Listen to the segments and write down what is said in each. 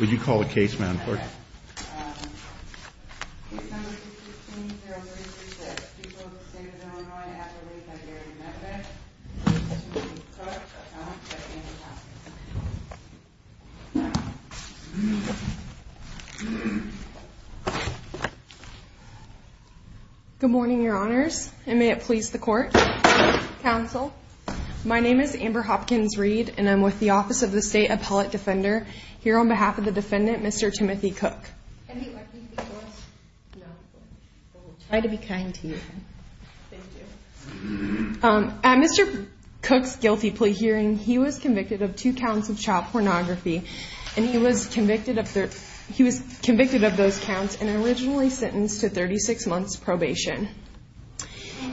Would you call the case, ma'am, for me? Good morning, your honors, and may it please the court, counsel. My name is Amber Hopkins-Reed, and I'm with the Office of the State Appellate Defender. Here on behalf of the defendant, Mr. Timothy Koch. At Mr. Koch's guilty plea hearing, he was convicted of two counts of child pornography, and he was convicted of those counts and originally sentenced to 36 months probation.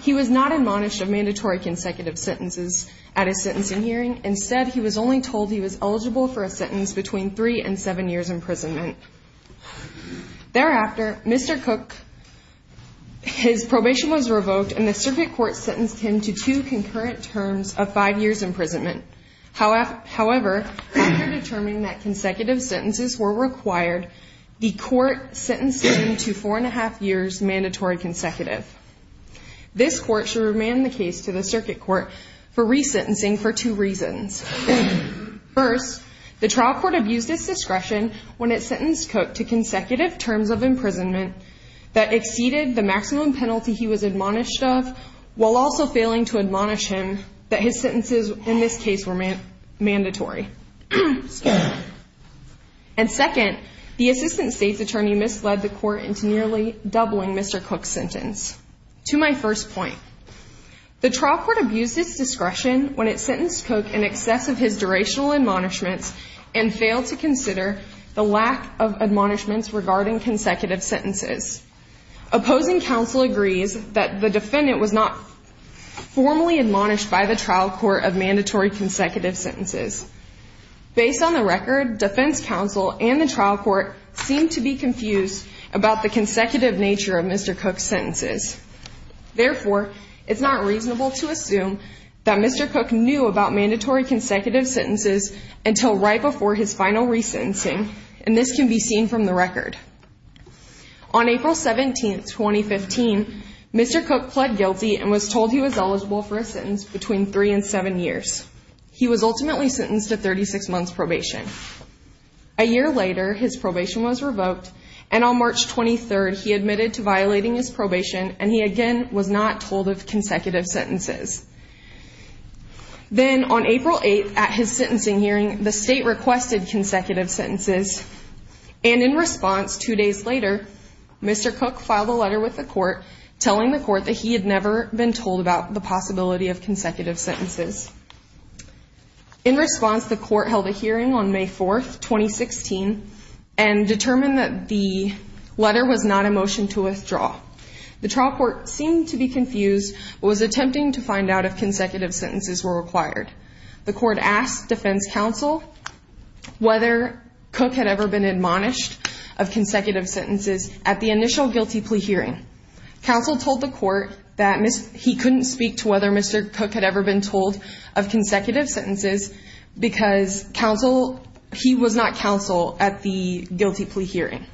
He was not admonished of mandatory consecutive sentences at his sentencing hearing. Instead, he was only told he was eligible for a sentence between three and seven years' imprisonment. Thereafter, Mr. Koch, his probation was revoked, and the circuit court sentenced him to two concurrent terms of five years' imprisonment. However, after determining that consecutive sentences were required, the court sentenced him to four and a half years' mandatory consecutive. This court should remand the case to the circuit court for resentencing for two reasons. First, the trial court abused its discretion when it sentenced Koch to consecutive terms of imprisonment that exceeded the maximum penalty he was admonished of, while also failing to admonish him that his sentences in this case were mandatory. And second, the assistant state's attorney misled the court into nearly doubling Mr. Koch's sentence. To my first point, the trial court abused its discretion when it sentenced Koch in excess of his durational admonishments and failed to consider the lack of admonishments regarding consecutive sentences. Opposing counsel agrees that the defendant was not formally admonished by the trial court of mandatory consecutive sentences. Based on the record, defense counsel and the trial court seem to be confused about the consecutive nature of Mr. Koch's sentences. Therefore, it's not reasonable to assume that Mr. Koch knew about mandatory consecutive sentences until right before his final resentencing, and this can be seen from the record. On April 17, 2015, Mr. Koch pled guilty and was told he was eligible for a sentence between three and seven years. He was ultimately sentenced to 36 months probation. A year later, his probation was revoked, and on March 23, he admitted to violating his probation, and he again was not told of consecutive sentences. Then on April 8, at his sentencing hearing, the state requested consecutive sentences, and in response two days later, Mr. Koch filed a letter with the court In response, the court held a hearing on May 4, 2016, and determined that the letter was not a motion to withdraw. The trial court seemed to be confused but was attempting to find out if consecutive sentences were required. The court asked defense counsel whether Koch had ever been admonished of consecutive sentences at the initial guilty plea hearing. Counsel told the court that he couldn't speak to whether Mr. Koch had ever been told of consecutive sentences because he was not counsel at the guilty plea hearing.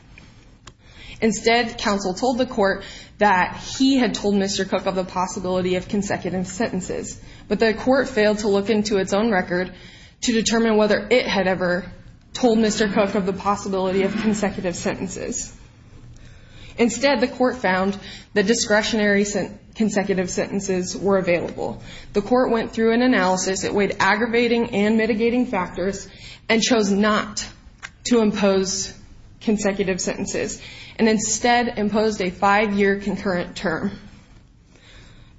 Instead, counsel told the court that he had told Mr. Koch of the possibility of consecutive sentences, but the court failed to look into its own record to determine whether it had ever told Mr. Koch of the possibility of consecutive sentences. Instead, the court found that discretionary consecutive sentences were available. The court went through an analysis that weighed aggravating and mitigating factors, and chose not to impose consecutive sentences, and instead imposed a five-year concurrent term.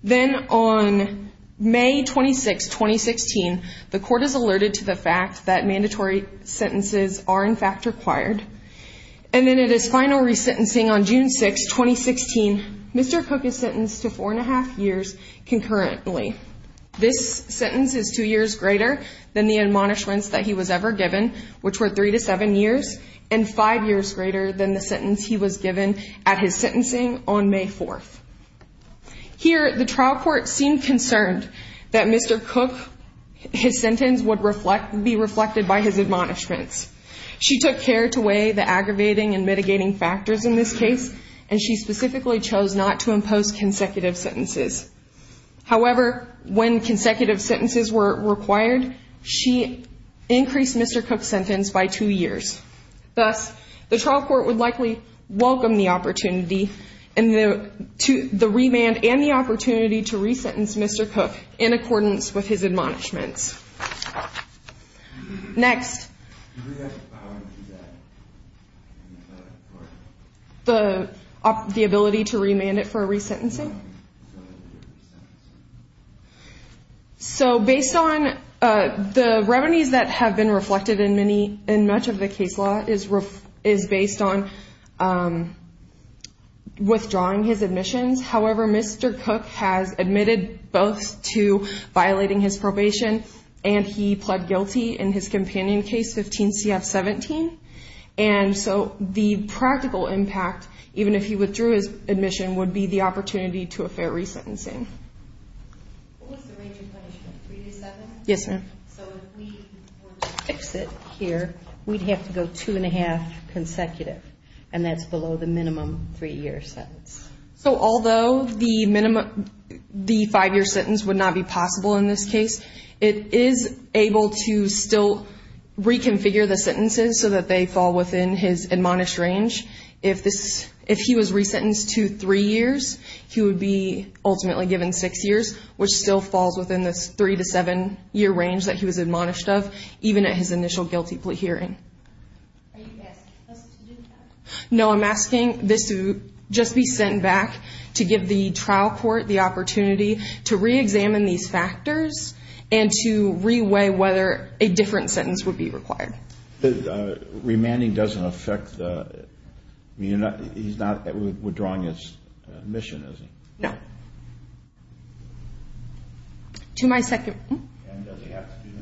Then on May 26, 2016, the court is alerted to the fact that mandatory sentences are in fact required, and then at his final resentencing on June 6, 2016, Mr. Koch is sentenced to four and a half years concurrently. This sentence is two years greater than the admonishments that he was ever given, which were three to seven years, and five years greater than the sentence he was given at his sentencing on May 4. Here, the trial court seemed concerned that Mr. Koch, his sentence would be reflected by his admonishments. She took care to weigh the aggravating and mitigating factors in this case, and she specifically chose not to impose consecutive sentences. However, when consecutive sentences were required, she increased Mr. Koch's sentence by two years. Thus, the trial court would likely welcome the opportunity and the remand and the opportunity to resentence Mr. Koch in accordance with his admonishments. Next. The ability to remand it for a resentencing? So based on the revenues that have been reflected in much of the case law is based on withdrawing his admissions. However, Mr. Koch has admitted both to violating his probation, and he pled guilty in his companion case, 15 CF 17. And so the practical impact, even if he withdrew his admission, would be the opportunity to a fair resentencing. What was the range of punishment, three to seven? Yes, ma'am. So if we were to fix it here, we'd have to go two and a half consecutive, and that's below the minimum three-year sentence. So although the five-year sentence would not be possible in this case, it is able to still reconfigure the sentences so that they fall within his admonished range. If he was resentenced to three years, he would be ultimately given six years, which still falls within this three- to seven-year range that he was admonished of, even at his initial guilty plea hearing. Are you asking us to do that? No, I'm asking this to just be sent back to give the trial court the opportunity to reexamine these factors and to reweigh whether a different sentence would be required. Remanding doesn't affect the ‑‑ he's not withdrawing his admission, is he? No. To my second ‑‑ And does he have to do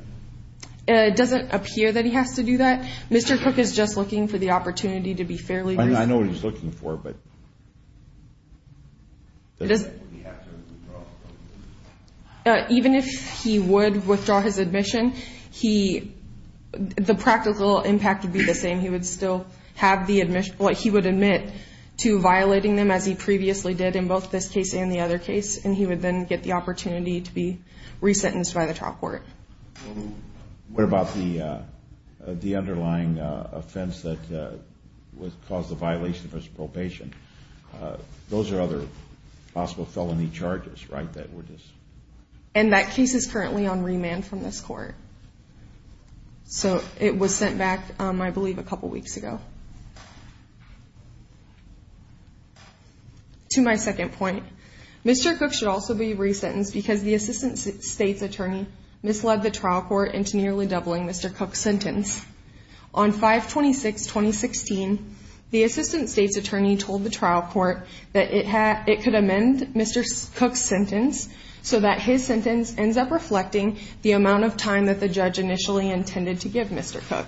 that? It doesn't appear that he has to do that. Mr. Cook is just looking for the opportunity to be fairly ‑‑ I know what he's looking for, but does he have to withdraw? Even if he would withdraw his admission, the practical impact would be the same. He would still have the ‑‑ he would admit to violating them, as he previously did in both this case and the other case, and he would then get the opportunity to be resentenced by the trial court. What about the underlying offense that caused the violation of his probation? Those are other possible felony charges, right? And that case is currently on remand from this court. So it was sent back, I believe, a couple weeks ago. To my second point, Mr. Cook should also be resentenced because the assistant state's attorney misled the trial court into nearly doubling Mr. Cook's sentence. On 5-26-2016, the assistant state's attorney told the trial court that it could amend Mr. Cook's sentence so that his sentence ends up reflecting the amount of time that the judge initially intended to give Mr. Cook.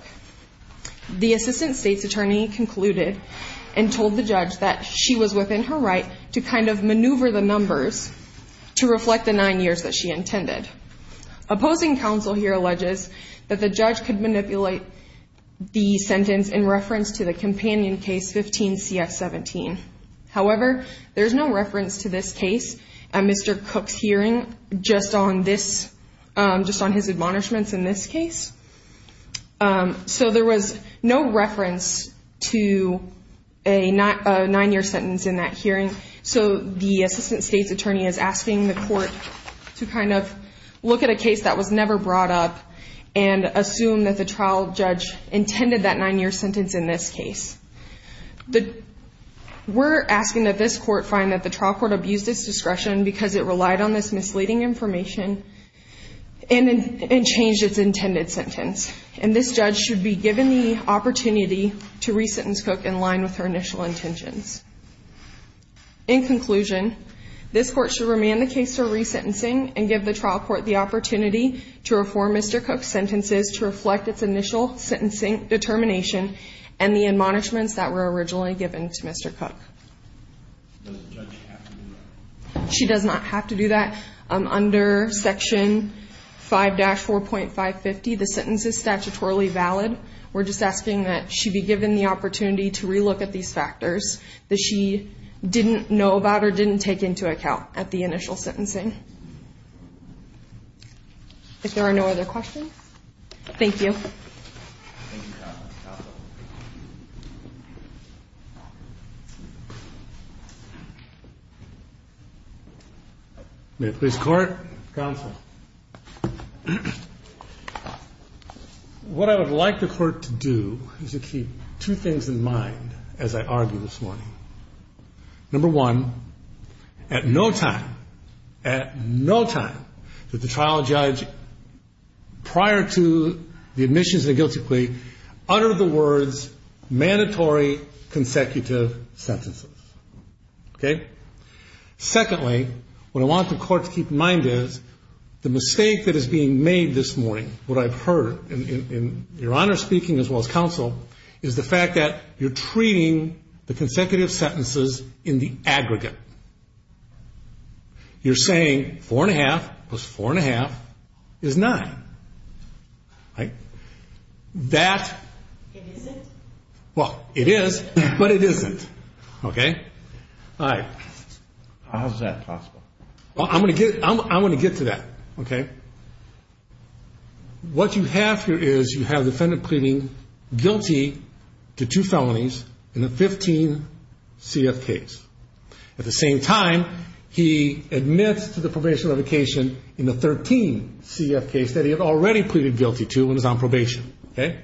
The assistant state's attorney concluded and told the judge that she was within her right to kind of maneuver the numbers to reflect the nine years that she intended. Opposing counsel here alleges that the judge could manipulate the sentence in reference to the companion case 15‑CF17. However, there's no reference to this case at Mr. Cook's hearing just on this ‑‑ just on his admonishments in this case. So there was no reference to a nine‑year sentence in that hearing. So the assistant state's attorney is asking the court to kind of look at a case that was never brought up and assume that the trial judge intended that nine‑year sentence in this case. We're asking that this court find that the trial court abused its discretion because it relied on this misleading information and changed its intended sentence. And this judge should be given the opportunity to resentence Cook in line with her initial intentions. In conclusion, this court should remand the case for resentencing and give the trial court the opportunity to reform Mr. Cook's sentences to reflect its initial sentencing determination and the admonishments that were originally given to Mr. Cook. Does the judge have to do that? She does not have to do that. Under Section 5‑4.550, the sentence is statutorily valid. We're just asking that she be given the opportunity to relook at these factors that she didn't know about or didn't take into account at the initial sentencing. If there are no other questions, thank you. Thank you, counsel. May I please court? Counsel. What I would like the court to do is to keep two things in mind as I argue this morning. Number one, at no time, at no time did the trial judge prior to the admissions and the guilty plea utter the words, mandatory consecutive sentences. Okay? Secondly, what I want the court to keep in mind is the mistake that is being made this morning, what I've heard in your Honor's speaking as well as counsel, is the fact that you're treating the consecutive sentences in the aggregate. You're saying 4.5 plus 4.5 is 9. Right? That... It isn't. Well, it is, but it isn't. Okay? All right. How is that possible? I'm going to get to that. Okay? What you have here is you have the defendant pleading guilty to two felonies in the 15 CF case. At the same time, he admits to the probation litigation in the 13 CF case that he had already pleaded guilty to when he was on probation. Okay?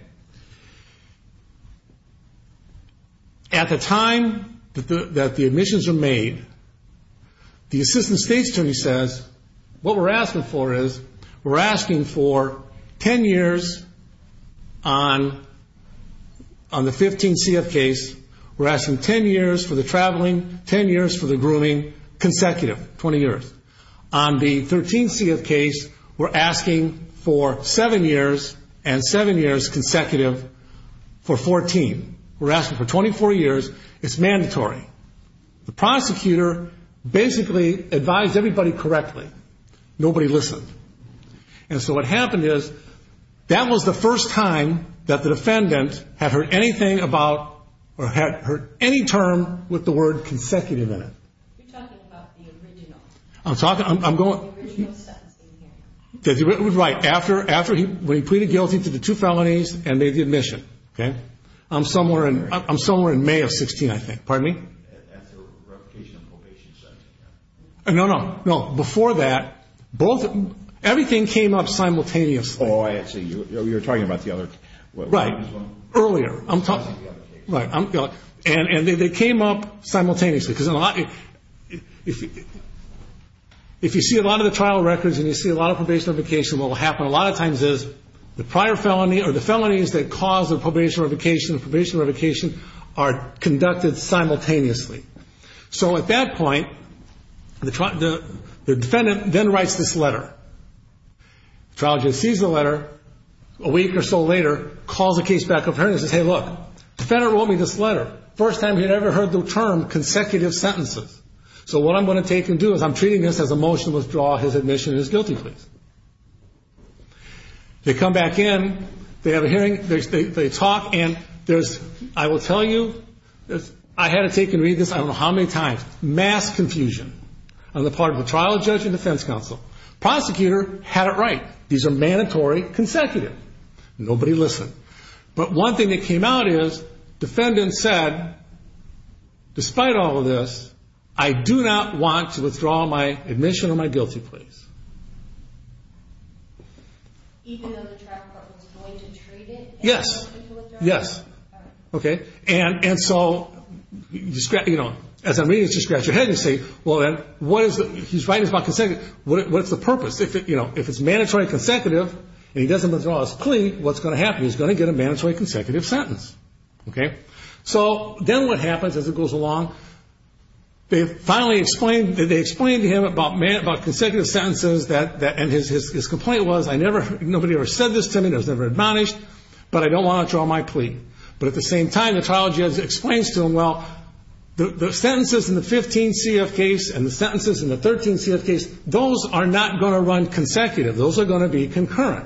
At the time that the admissions are made, the assistant state's attorney says, what we're asking for is we're asking for 10 years on the 15 CF case, we're asking 10 years for the traveling, 10 years for the grooming, consecutive, 20 years. On the 13 CF case, we're asking for seven years and seven years consecutive for 14. We're asking for 24 years. It's mandatory. The prosecutor basically advised everybody correctly. Nobody listened. And so what happened is that was the first time that the defendant had heard anything about or had heard any term with the word consecutive in it. You're talking about the original. I'm talking – I'm going – The original sentencing hearing. Right. After he – when he pleaded guilty to the two felonies and made the admission. Okay? I'm somewhere in May of 16, I think. Pardon me? At the replication and probation sentencing hearing. No, no. No. Before that, both – everything came up simultaneously. Oh, I see. You're talking about the other – Right. Earlier. I'm talking – Right. And they came up simultaneously. Because in a lot – if you see a lot of the trial records and you see a lot of probation notification, what will happen a lot of times is the prior felony or the felonies that caused the probation notification and probation notification are conducted simultaneously. So at that point, the defendant then writes this letter. Trial judge sees the letter a week or so later, calls the case back up here and says, Hey, look. The defendant wrote me this letter. First time he had ever heard the term consecutive sentences. So what I'm going to take and do is I'm treating this as a motion to withdraw his admission of his guilty plea. They come back in. They have a hearing. They talk. And there's – I will tell you, I had to take and read this I don't know how many times. Mass confusion on the part of the trial judge and defense counsel. Prosecutor had it right. These are mandatory consecutive. Nobody listened. But one thing that came out is defendant said, despite all of this, I do not want to withdraw my admission of my guilty pleas. Even though the trial court was going to treat it as a motion to withdraw? Yes. Okay. And so, you know, as I'm reading this, you scratch your head and you say, well, then, what is it? He's writing about consecutive. What's the purpose? If it's mandatory consecutive and he doesn't withdraw his plea, what's going to happen? He's going to get a mandatory consecutive sentence. Okay. So then what happens as it goes along? They finally explained – they explained to him about consecutive sentences and his complaint was I never – nobody ever said this to me. I was never admonished. But I don't want to withdraw my plea. But at the same time, the trial judge explains to him, well, the sentences in the 15 CF case and the sentences in the 13 CF case, those are not going to run consecutive. Those are going to be concurrent.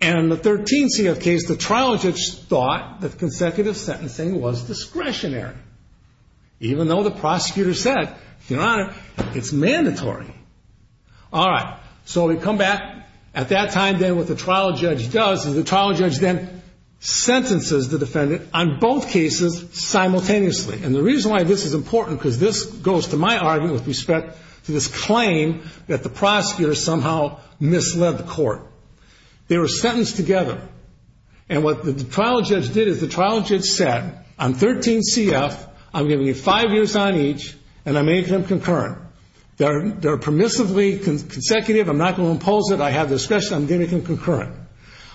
And in the 13 CF case, the trial judge thought that consecutive sentencing was discretionary, even though the prosecutor said, Your Honor, it's mandatory. All right. So we come back. At that time, then, what the trial judge does is the trial judge then sentences the defendant on both cases simultaneously. And the reason why this is important, because this goes to my argument with respect to this claim that the prosecutor somehow misled the court. They were sentenced together. And what the trial judge did is the trial judge said, On 13 CF, I'm giving you five years on each and I'm making them concurrent. They're permissively consecutive. I'm not going to impose it. I have discretion. I'm making them concurrent.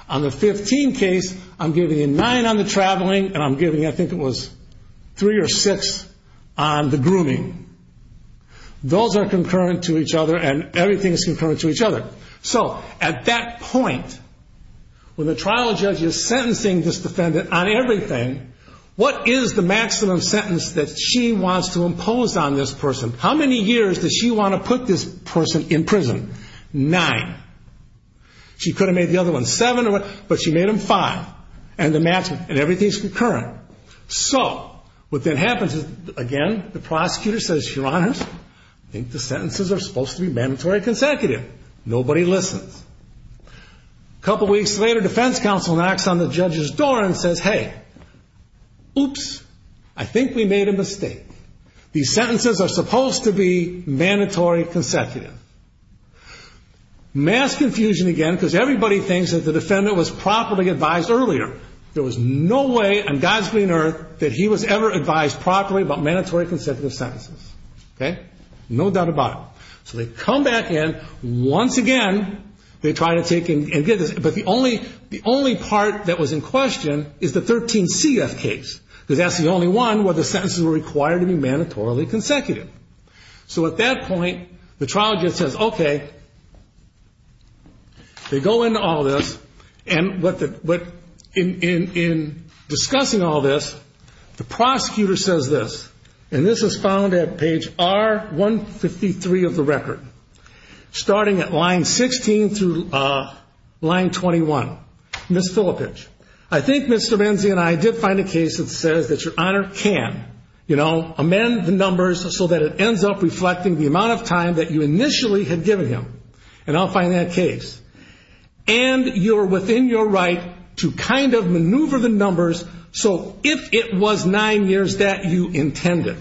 On the 15 case, I'm giving you nine on the traveling and I'm giving you, I think it was, three or six on the grooming. Those are concurrent to each other and everything is concurrent to each other. So at that point, when the trial judge is sentencing this defendant on everything, what is the maximum sentence that she wants to impose on this person? How many years does she want to put this person in prison? Nine. She could have made the other one seven, but she made them five. And everything is concurrent. So what then happens is, again, the prosecutor says, Your Honor, I think the sentences are supposed to be mandatory consecutive. Nobody listens. A couple weeks later, defense counsel knocks on the judge's door and says, Hey, oops. I think we made a mistake. These sentences are supposed to be mandatory consecutive. Mass confusion again because everybody thinks that the defendant was properly advised earlier. There was no way on God's green earth that he was ever advised properly about mandatory consecutive sentences. Okay? No doubt about it. So they come back in. Once again, they try to take and get this. But the only part that was in question is the 13 CF case because that's the only one where the sentences were required to be mandatorily consecutive. So at that point, the trial judge says, Okay. They go into all this. And in discussing all this, the prosecutor says this. And this is found at page R153 of the record, starting at line 16 through line 21. Ms. Filippich, I think Mr. Menzi and I did find a case that says that Your Honor can, you know, amend the numbers so that it ends up reflecting the amount of time that you initially had given him. And I'll find that case. And you're within your right to kind of maneuver the numbers so if it was nine years that you intended.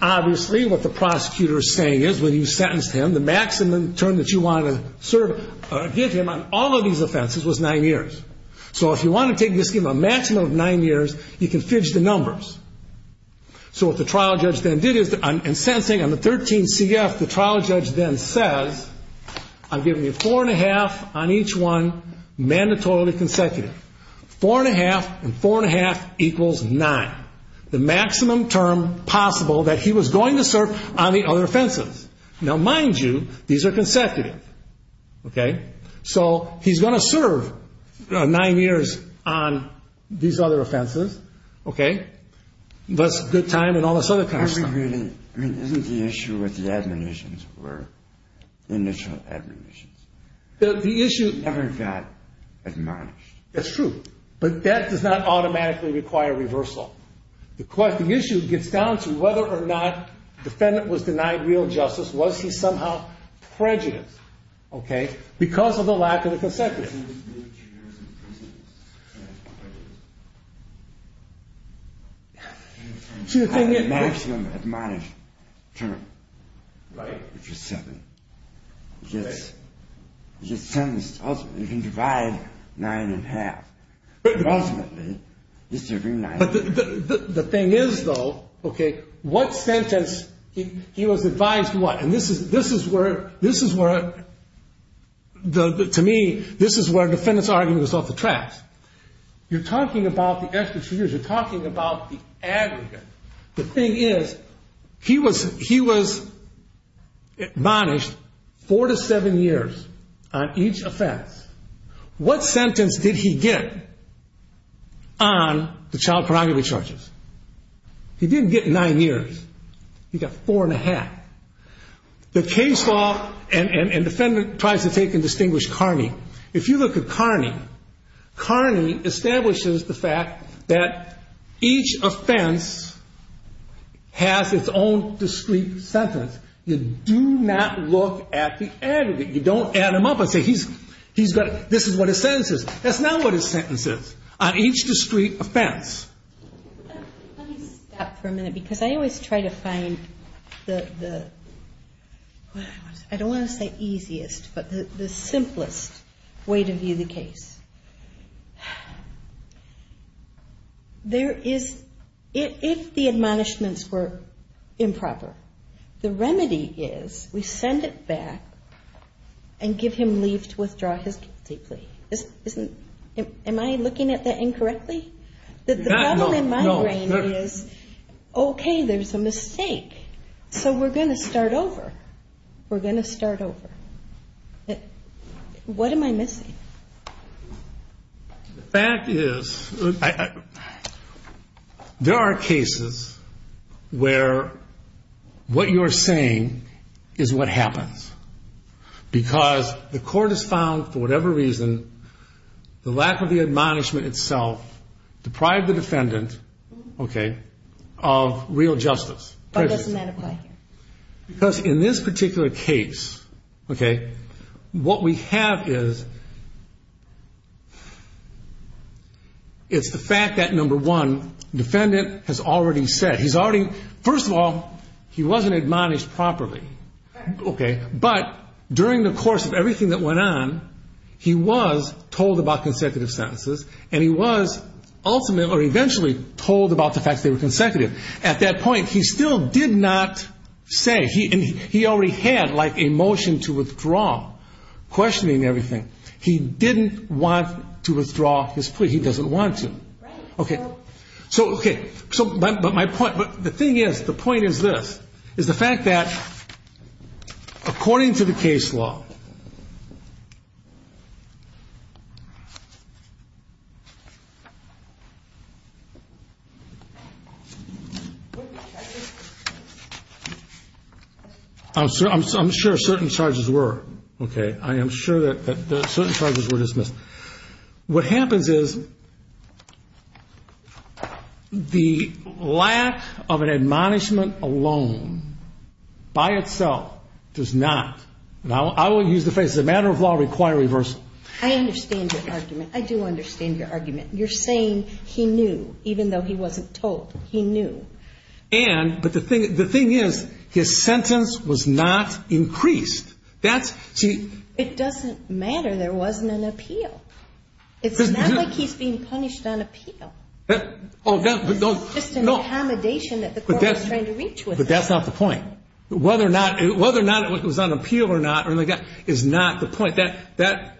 Obviously, what the prosecutor is saying is when you sentenced him, the maximum term that you want to give him on all of these offenses was nine years. So if you want to take the scheme of a maximum of nine years, you can fidge the numbers. So what the trial judge then did is, in sensing on the 13 CF, the trial judge then says, I'm giving you four and a half on each one, mandatorily consecutive. Four and a half and four and a half equals nine. The maximum term possible that he was going to serve on the other offenses. Now, mind you, these are consecutive. Okay. So he's going to serve nine years on these other offenses. Okay. That's a good time and all this other kind of stuff. I mean, isn't the issue with the admonitions were initial admonitions? The issue. Never got admonished. That's true. But that does not automatically require reversal. The issue gets down to whether or not the defendant was denied real justice. Was he somehow prejudiced? Okay. Because of the lack of the consecutive. Maximum admonished term. Right. Which is seven. Okay. You can divide nine and a half. Ultimately, he's serving nine years. But the thing is, though, okay, what sentence, he was advised what? And this is where, to me, this is where I'm at. This is where a defendant's argument is off the tracks. You're talking about the extra two years. You're talking about the aggregate. The thing is, he was admonished four to seven years on each offense. What sentence did he get on the child pornography charges? He didn't get nine years. He got four and a half. The case law and defendant tries to take and distinguish Kearney. If you look at Kearney, Kearney establishes the fact that each offense has its own discrete sentence. You do not look at the aggregate. You don't add him up and say, this is what his sentence is. That's not what his sentence is. On each discrete offense. Let me stop for a minute because I always try to find the, I don't want to say easiest, but the simplest way to view the case. There is, if the admonishments were improper, the remedy is we send it back and give him leave to withdraw his guilty plea. Am I looking at that incorrectly? The problem in my brain is, okay, there's a mistake. So we're going to start over. We're going to start over. What am I missing? The fact is, there are cases where what you're saying is what happens. Because the court has found, for whatever reason, the lack of the admonishment itself deprived the defendant, okay, of real justice. Why doesn't that apply here? Because in this particular case, okay, what we have is, it's the fact that, number one, defendant has already said. He's already, first of all, he wasn't admonished properly. Okay. But during the course of everything that went on, he was told about consecutive sentences, and he was ultimately or eventually told about the fact that they were consecutive. At that point, he still did not say. He already had, like, a motion to withdraw, questioning everything. He didn't want to withdraw his plea. He doesn't want to. Okay. So, okay, but my point, the thing is, the point is this, is the fact that, according to the case law, I'm sure certain charges were, okay. I am sure that certain charges were dismissed. What happens is, the lack of an admonishment alone, by itself, does not, and I will use the phrase, as a matter of law, require reversal. I understand your argument. I do understand your argument. You're saying he knew, even though he wasn't told. He knew. And, but the thing is, his sentence was not increased. It doesn't matter. There wasn't an appeal. It's not like he's being punished on appeal. It's just an accommodation that the court was trying to reach with him. But that's not the point. Whether or not it was on appeal or not is not the point. That,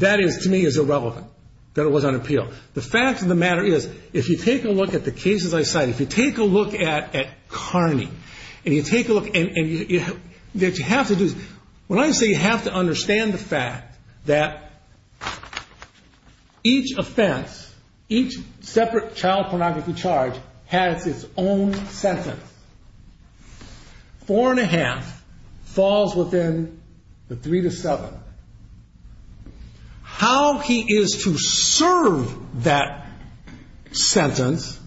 to me, is irrelevant, that it was on appeal. The fact of the matter is, if you take a look at the cases I cite, if you take a look at Carney, and you take a look, and what you have to do is, when I say you have to understand the fact that each offense, each separate child pornography charge has its own sentence, four and a half falls within the three to seven. How he is to serve that sentence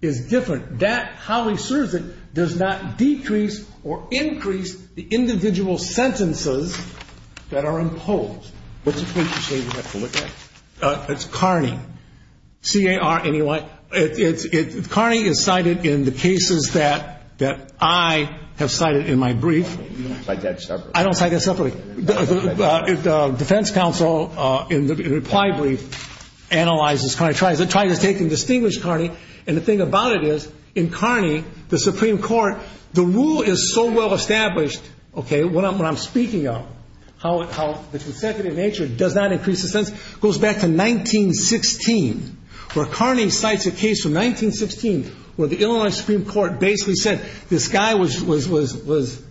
is different. That, how he serves it, does not decrease or increase the individual sentences that are imposed. What's the point you're saying we have to look at? It's Carney. C-A-R-N-E-Y. Carney is cited in the cases that I have cited in my brief. You don't cite that separately. I don't cite that separately. The defense counsel in the reply brief analyzes Carney, tries to take and distinguish Carney. And the thing about it is, in Carney, the Supreme Court, the rule is so well established, okay, what I'm speaking of, how the consecutive nature does not increase the sentence, goes back to 1916, where Carney cites a case from 1916 where the Illinois Supreme Court basically said, this guy was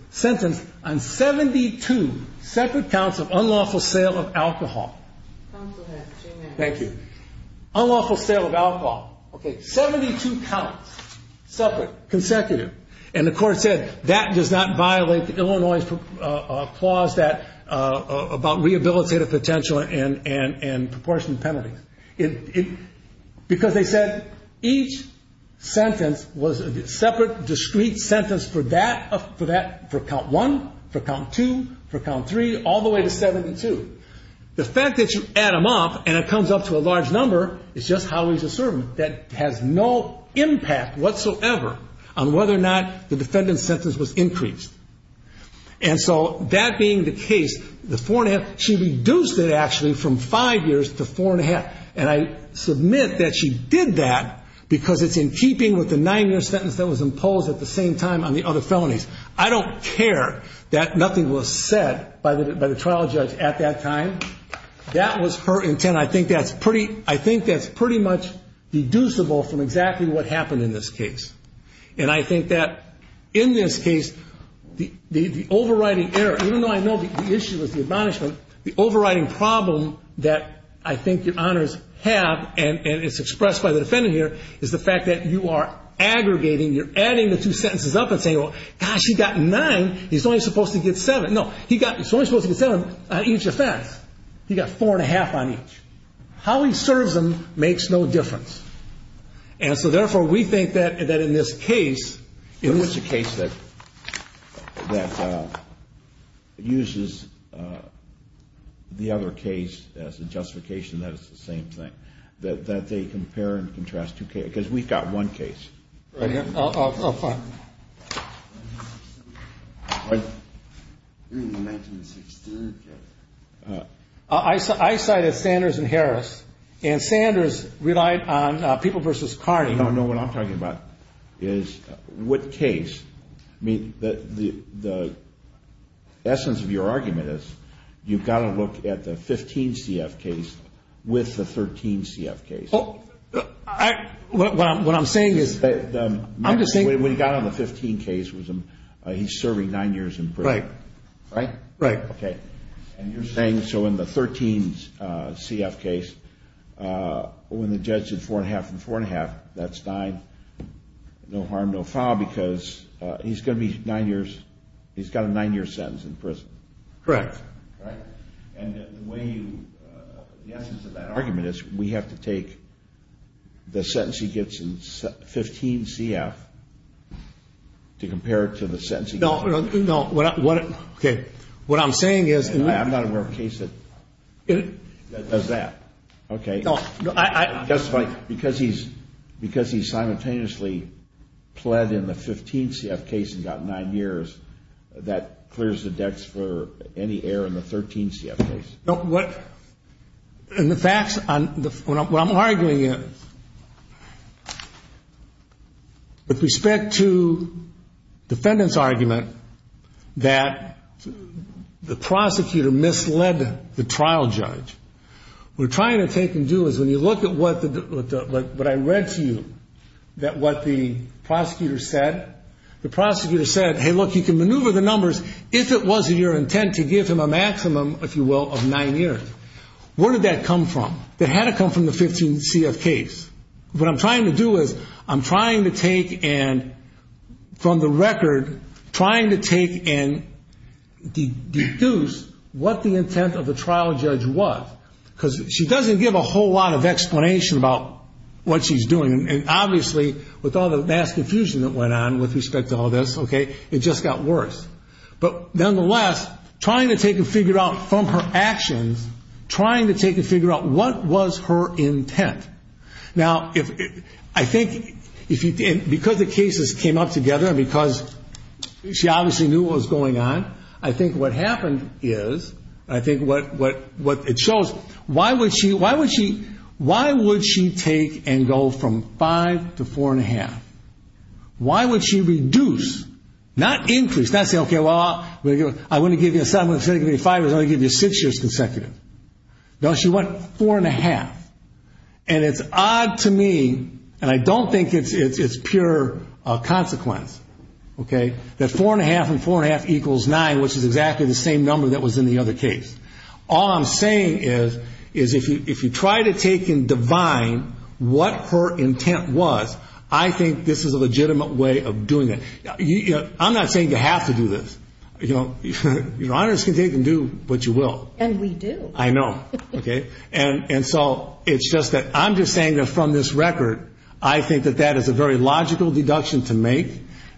sentenced on 72 separate counts of unlawful sale of alcohol. Unlawful sale of alcohol. Okay, 72 counts. Separate. Consecutive. And the court said, that does not violate Illinois' clause about rehabilitative potential and proportion penalties. Because they said each sentence was a separate, discrete sentence for that, for count one, for count two, for count three, all the way to 72. The fact that you add them up and it comes up to a large number is just how he's a servant. That has no impact whatsoever on whether or not the defendant's sentence was increased. And so that being the case, the four and a half, she reduced it actually from five years to four and a half. And I submit that she did that because it's in keeping with the nine-year sentence that was imposed at the same time on the other felonies. I don't care that nothing was said by the trial judge at that time. That was her intent. I think that's pretty much deducible from exactly what happened in this case. And I think that in this case, the overriding error, even though I know the issue is the admonishment, the overriding problem that I think your honors have, and it's expressed by the defendant here, is the fact that you are aggregating, you're adding the two sentences up and saying, well, gosh, he got nine, he's only supposed to get seven. No, he's only supposed to get seven on each offense. He got four and a half on each. How he serves them makes no difference. And so, therefore, we think that in this case, it was a case that uses the other case as a justification that it's the same thing, that they compare and contrast two cases. Because we've got one case. Oh, fine. I cited Sanders and Harris, and Sanders relied on People v. Carney. No, no, what I'm talking about is what case. I mean, the essence of your argument is you've got to look at the 15 CF case with the 13 CF case. What I'm saying is, I'm just saying. When he got on the 15 case, he's serving nine years in prison. Right. Right? Right. Okay. And you're saying, so in the 13 CF case, when the judge did four and a half and four and a half, that's nine. No harm, no foul, because he's going to be nine years. He's got a nine-year sentence in prison. Correct. Right? And the way you, the essence of that argument is we have to take the sentence he gets in 15 CF to compare it to the sentence he gets. No, no. Okay. What I'm saying is. I'm not aware of a case that does that. Okay. Because he's simultaneously pled in the 15 CF case and got nine years, that clears the decks for any error in the 13 CF case. No, what, and the facts on, what I'm arguing is, with respect to defendant's argument that the prosecutor misled the trial judge. What we're trying to take and do is, when you look at what I read to you, that what the prosecutor said, the prosecutor said, hey, look, you can maneuver the numbers if it wasn't your intent to give him a maximum, if you will, of nine years. Where did that come from? That had to come from the 15 CF case. What I'm trying to do is, I'm trying to take and, from the record, trying to take and deduce what the intent of the trial judge was. Because she doesn't give a whole lot of explanation about what she's doing. And obviously, with all the mass confusion that went on with respect to all this, okay, it just got worse. But nonetheless, trying to take and figure out from her actions, trying to take and figure out what was her intent. Now, I think, because the cases came up together and because she obviously knew what was going on, I think what happened is, I think what it shows, why would she take and go from five to four and a half? Why would she reduce, not increase, not say, okay, well, I'm going to give you a seven, I'm going to give you a five, I'm going to give you six years consecutive. No, she went four and a half. And it's odd to me, and I don't think it's pure consequence, okay, that four and a half and four and a half equals nine, which is exactly the same number that was in the other case. All I'm saying is, is if you try to take and divine what her intent was, I think this is a legitimate way of doing it. I'm not saying you have to do this. You know, you can take and do what you will. And we do. I know, okay. And so it's just that I'm just saying that from this record, I think that that is a very logical deduction to make.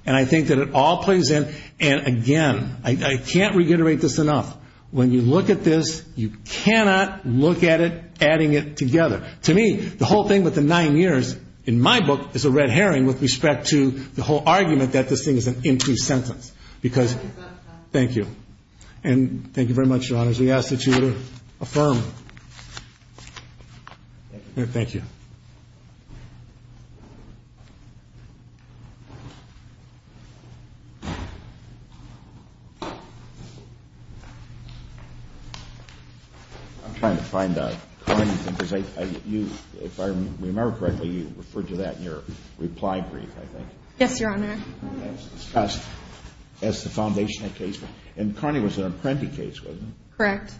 And I think that it all plays in. And again, I can't reiterate this enough. When you look at this, you cannot look at it adding it together. To me, the whole thing with the nine years, in my book, is a red herring with respect to the whole argument that this thing is an empty sentence. Because, thank you. And thank you very much, Your Honors. We ask that you would affirm. Thank you. I'm trying to find Connie. If I remember correctly, you referred to that in your reply brief, I think. Yes, Your Honor. As the foundation of the case. And Connie was an apprentice case, wasn't she? Correct.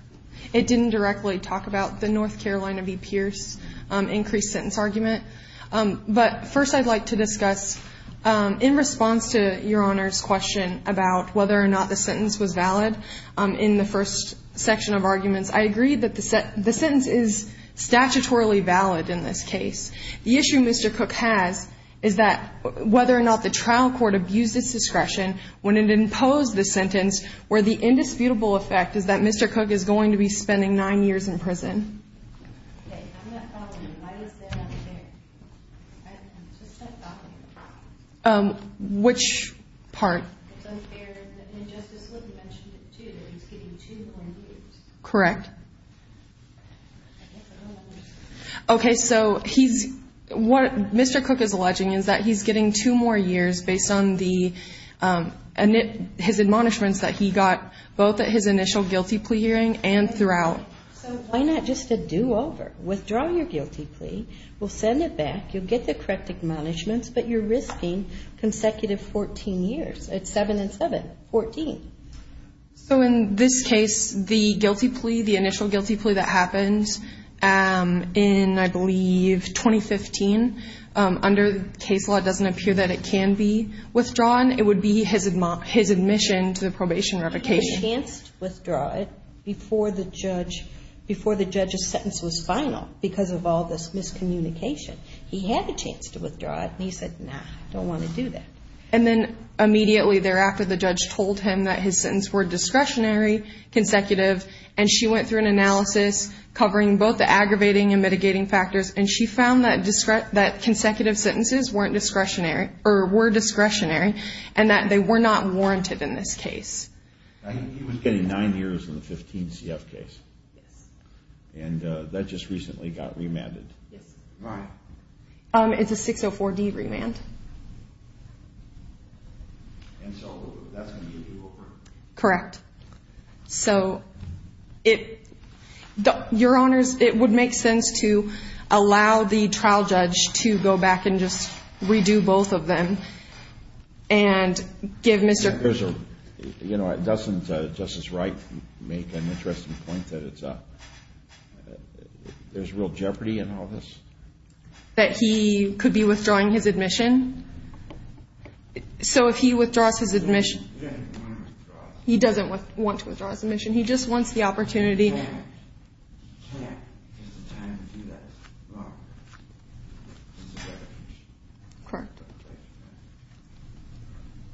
It didn't directly talk about the North Carolina v. Pierce increased sentence argument. But first I'd like to discuss, in response to Your Honor's question about whether or not the sentence was valid, in the first section of arguments, I agree that the sentence is statutorily valid in this case. The issue Mr. Cook has is that whether or not the trial court abused its discretion when it imposed the sentence, where the indisputable effect is that Mr. Cook is going to be spending nine years in prison. Okay. I'm not following. Why is there an unfair? I'm just not following. Which part? It's unfair. And Justice Wood mentioned it, too, that he's getting two more years. Correct. Okay. So what Mr. Cook is alleging is that he's getting two more years based on his admonishments that he got both at his initial guilty plea hearing and throughout. So why not just a do-over? Withdraw your guilty plea. We'll send it back. You'll get the correct admonishments. But you're risking consecutive 14 years. It's seven and seven. Fourteen. So in this case, the guilty plea, the initial guilty plea that happened in, I believe, 2015, under case law it doesn't appear that it can be withdrawn. It would be his admission to the probation revocation. He had a chance to withdraw it before the judge's sentence was final because of all this miscommunication. He had a chance to withdraw it, and he said, no, I don't want to do that. And then immediately thereafter, the judge told him that his sentence were discretionary, consecutive, and she went through an analysis covering both the aggravating and mitigating factors, and she found that consecutive sentences weren't discretionary or were discretionary and that they were not warranted in this case. He was getting nine years in the 2015 CF case. Yes. And that just recently got remanded. Yes. All right. It's a 604D remand. And so that's going to be a do-over? Correct. So your Honors, it would make sense to allow the trial judge to go back and just redo both of them and give Mr. Doesn't Justice Wright make an interesting point that there's real jeopardy in all this? That he could be withdrawing his admission. So if he withdraws his admission, he doesn't want to withdraw his admission. He just wants the opportunity.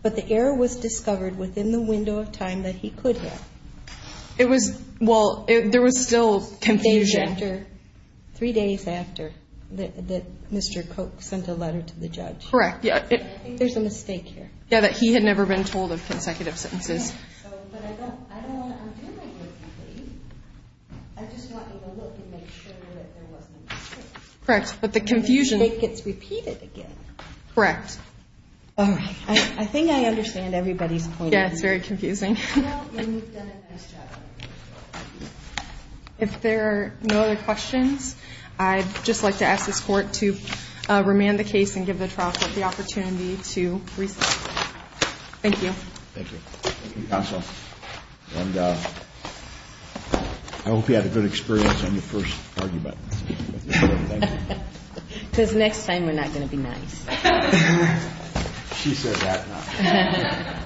But the error was discovered within the window of time that he could have. Well, there was still confusion. Three days after that Mr. Koch sent a letter to the judge. Correct. There's a mistake here. Yeah, that he had never been told of consecutive sentences. I just want you to look and make sure that there wasn't a mistake. Correct. But the confusion. The mistake gets repeated again. Correct. All right. I think I understand everybody's point. Yeah, it's very confusing. You know, and you've done a nice job. If there are no other questions, I'd just like to ask this court to remand the case and give the trial court the opportunity to recess. Thank you. Thank you. Thank you, counsel. And I hope you had a good experience on your first argument. Thank you. Because next time we're not going to be nice. She said that now.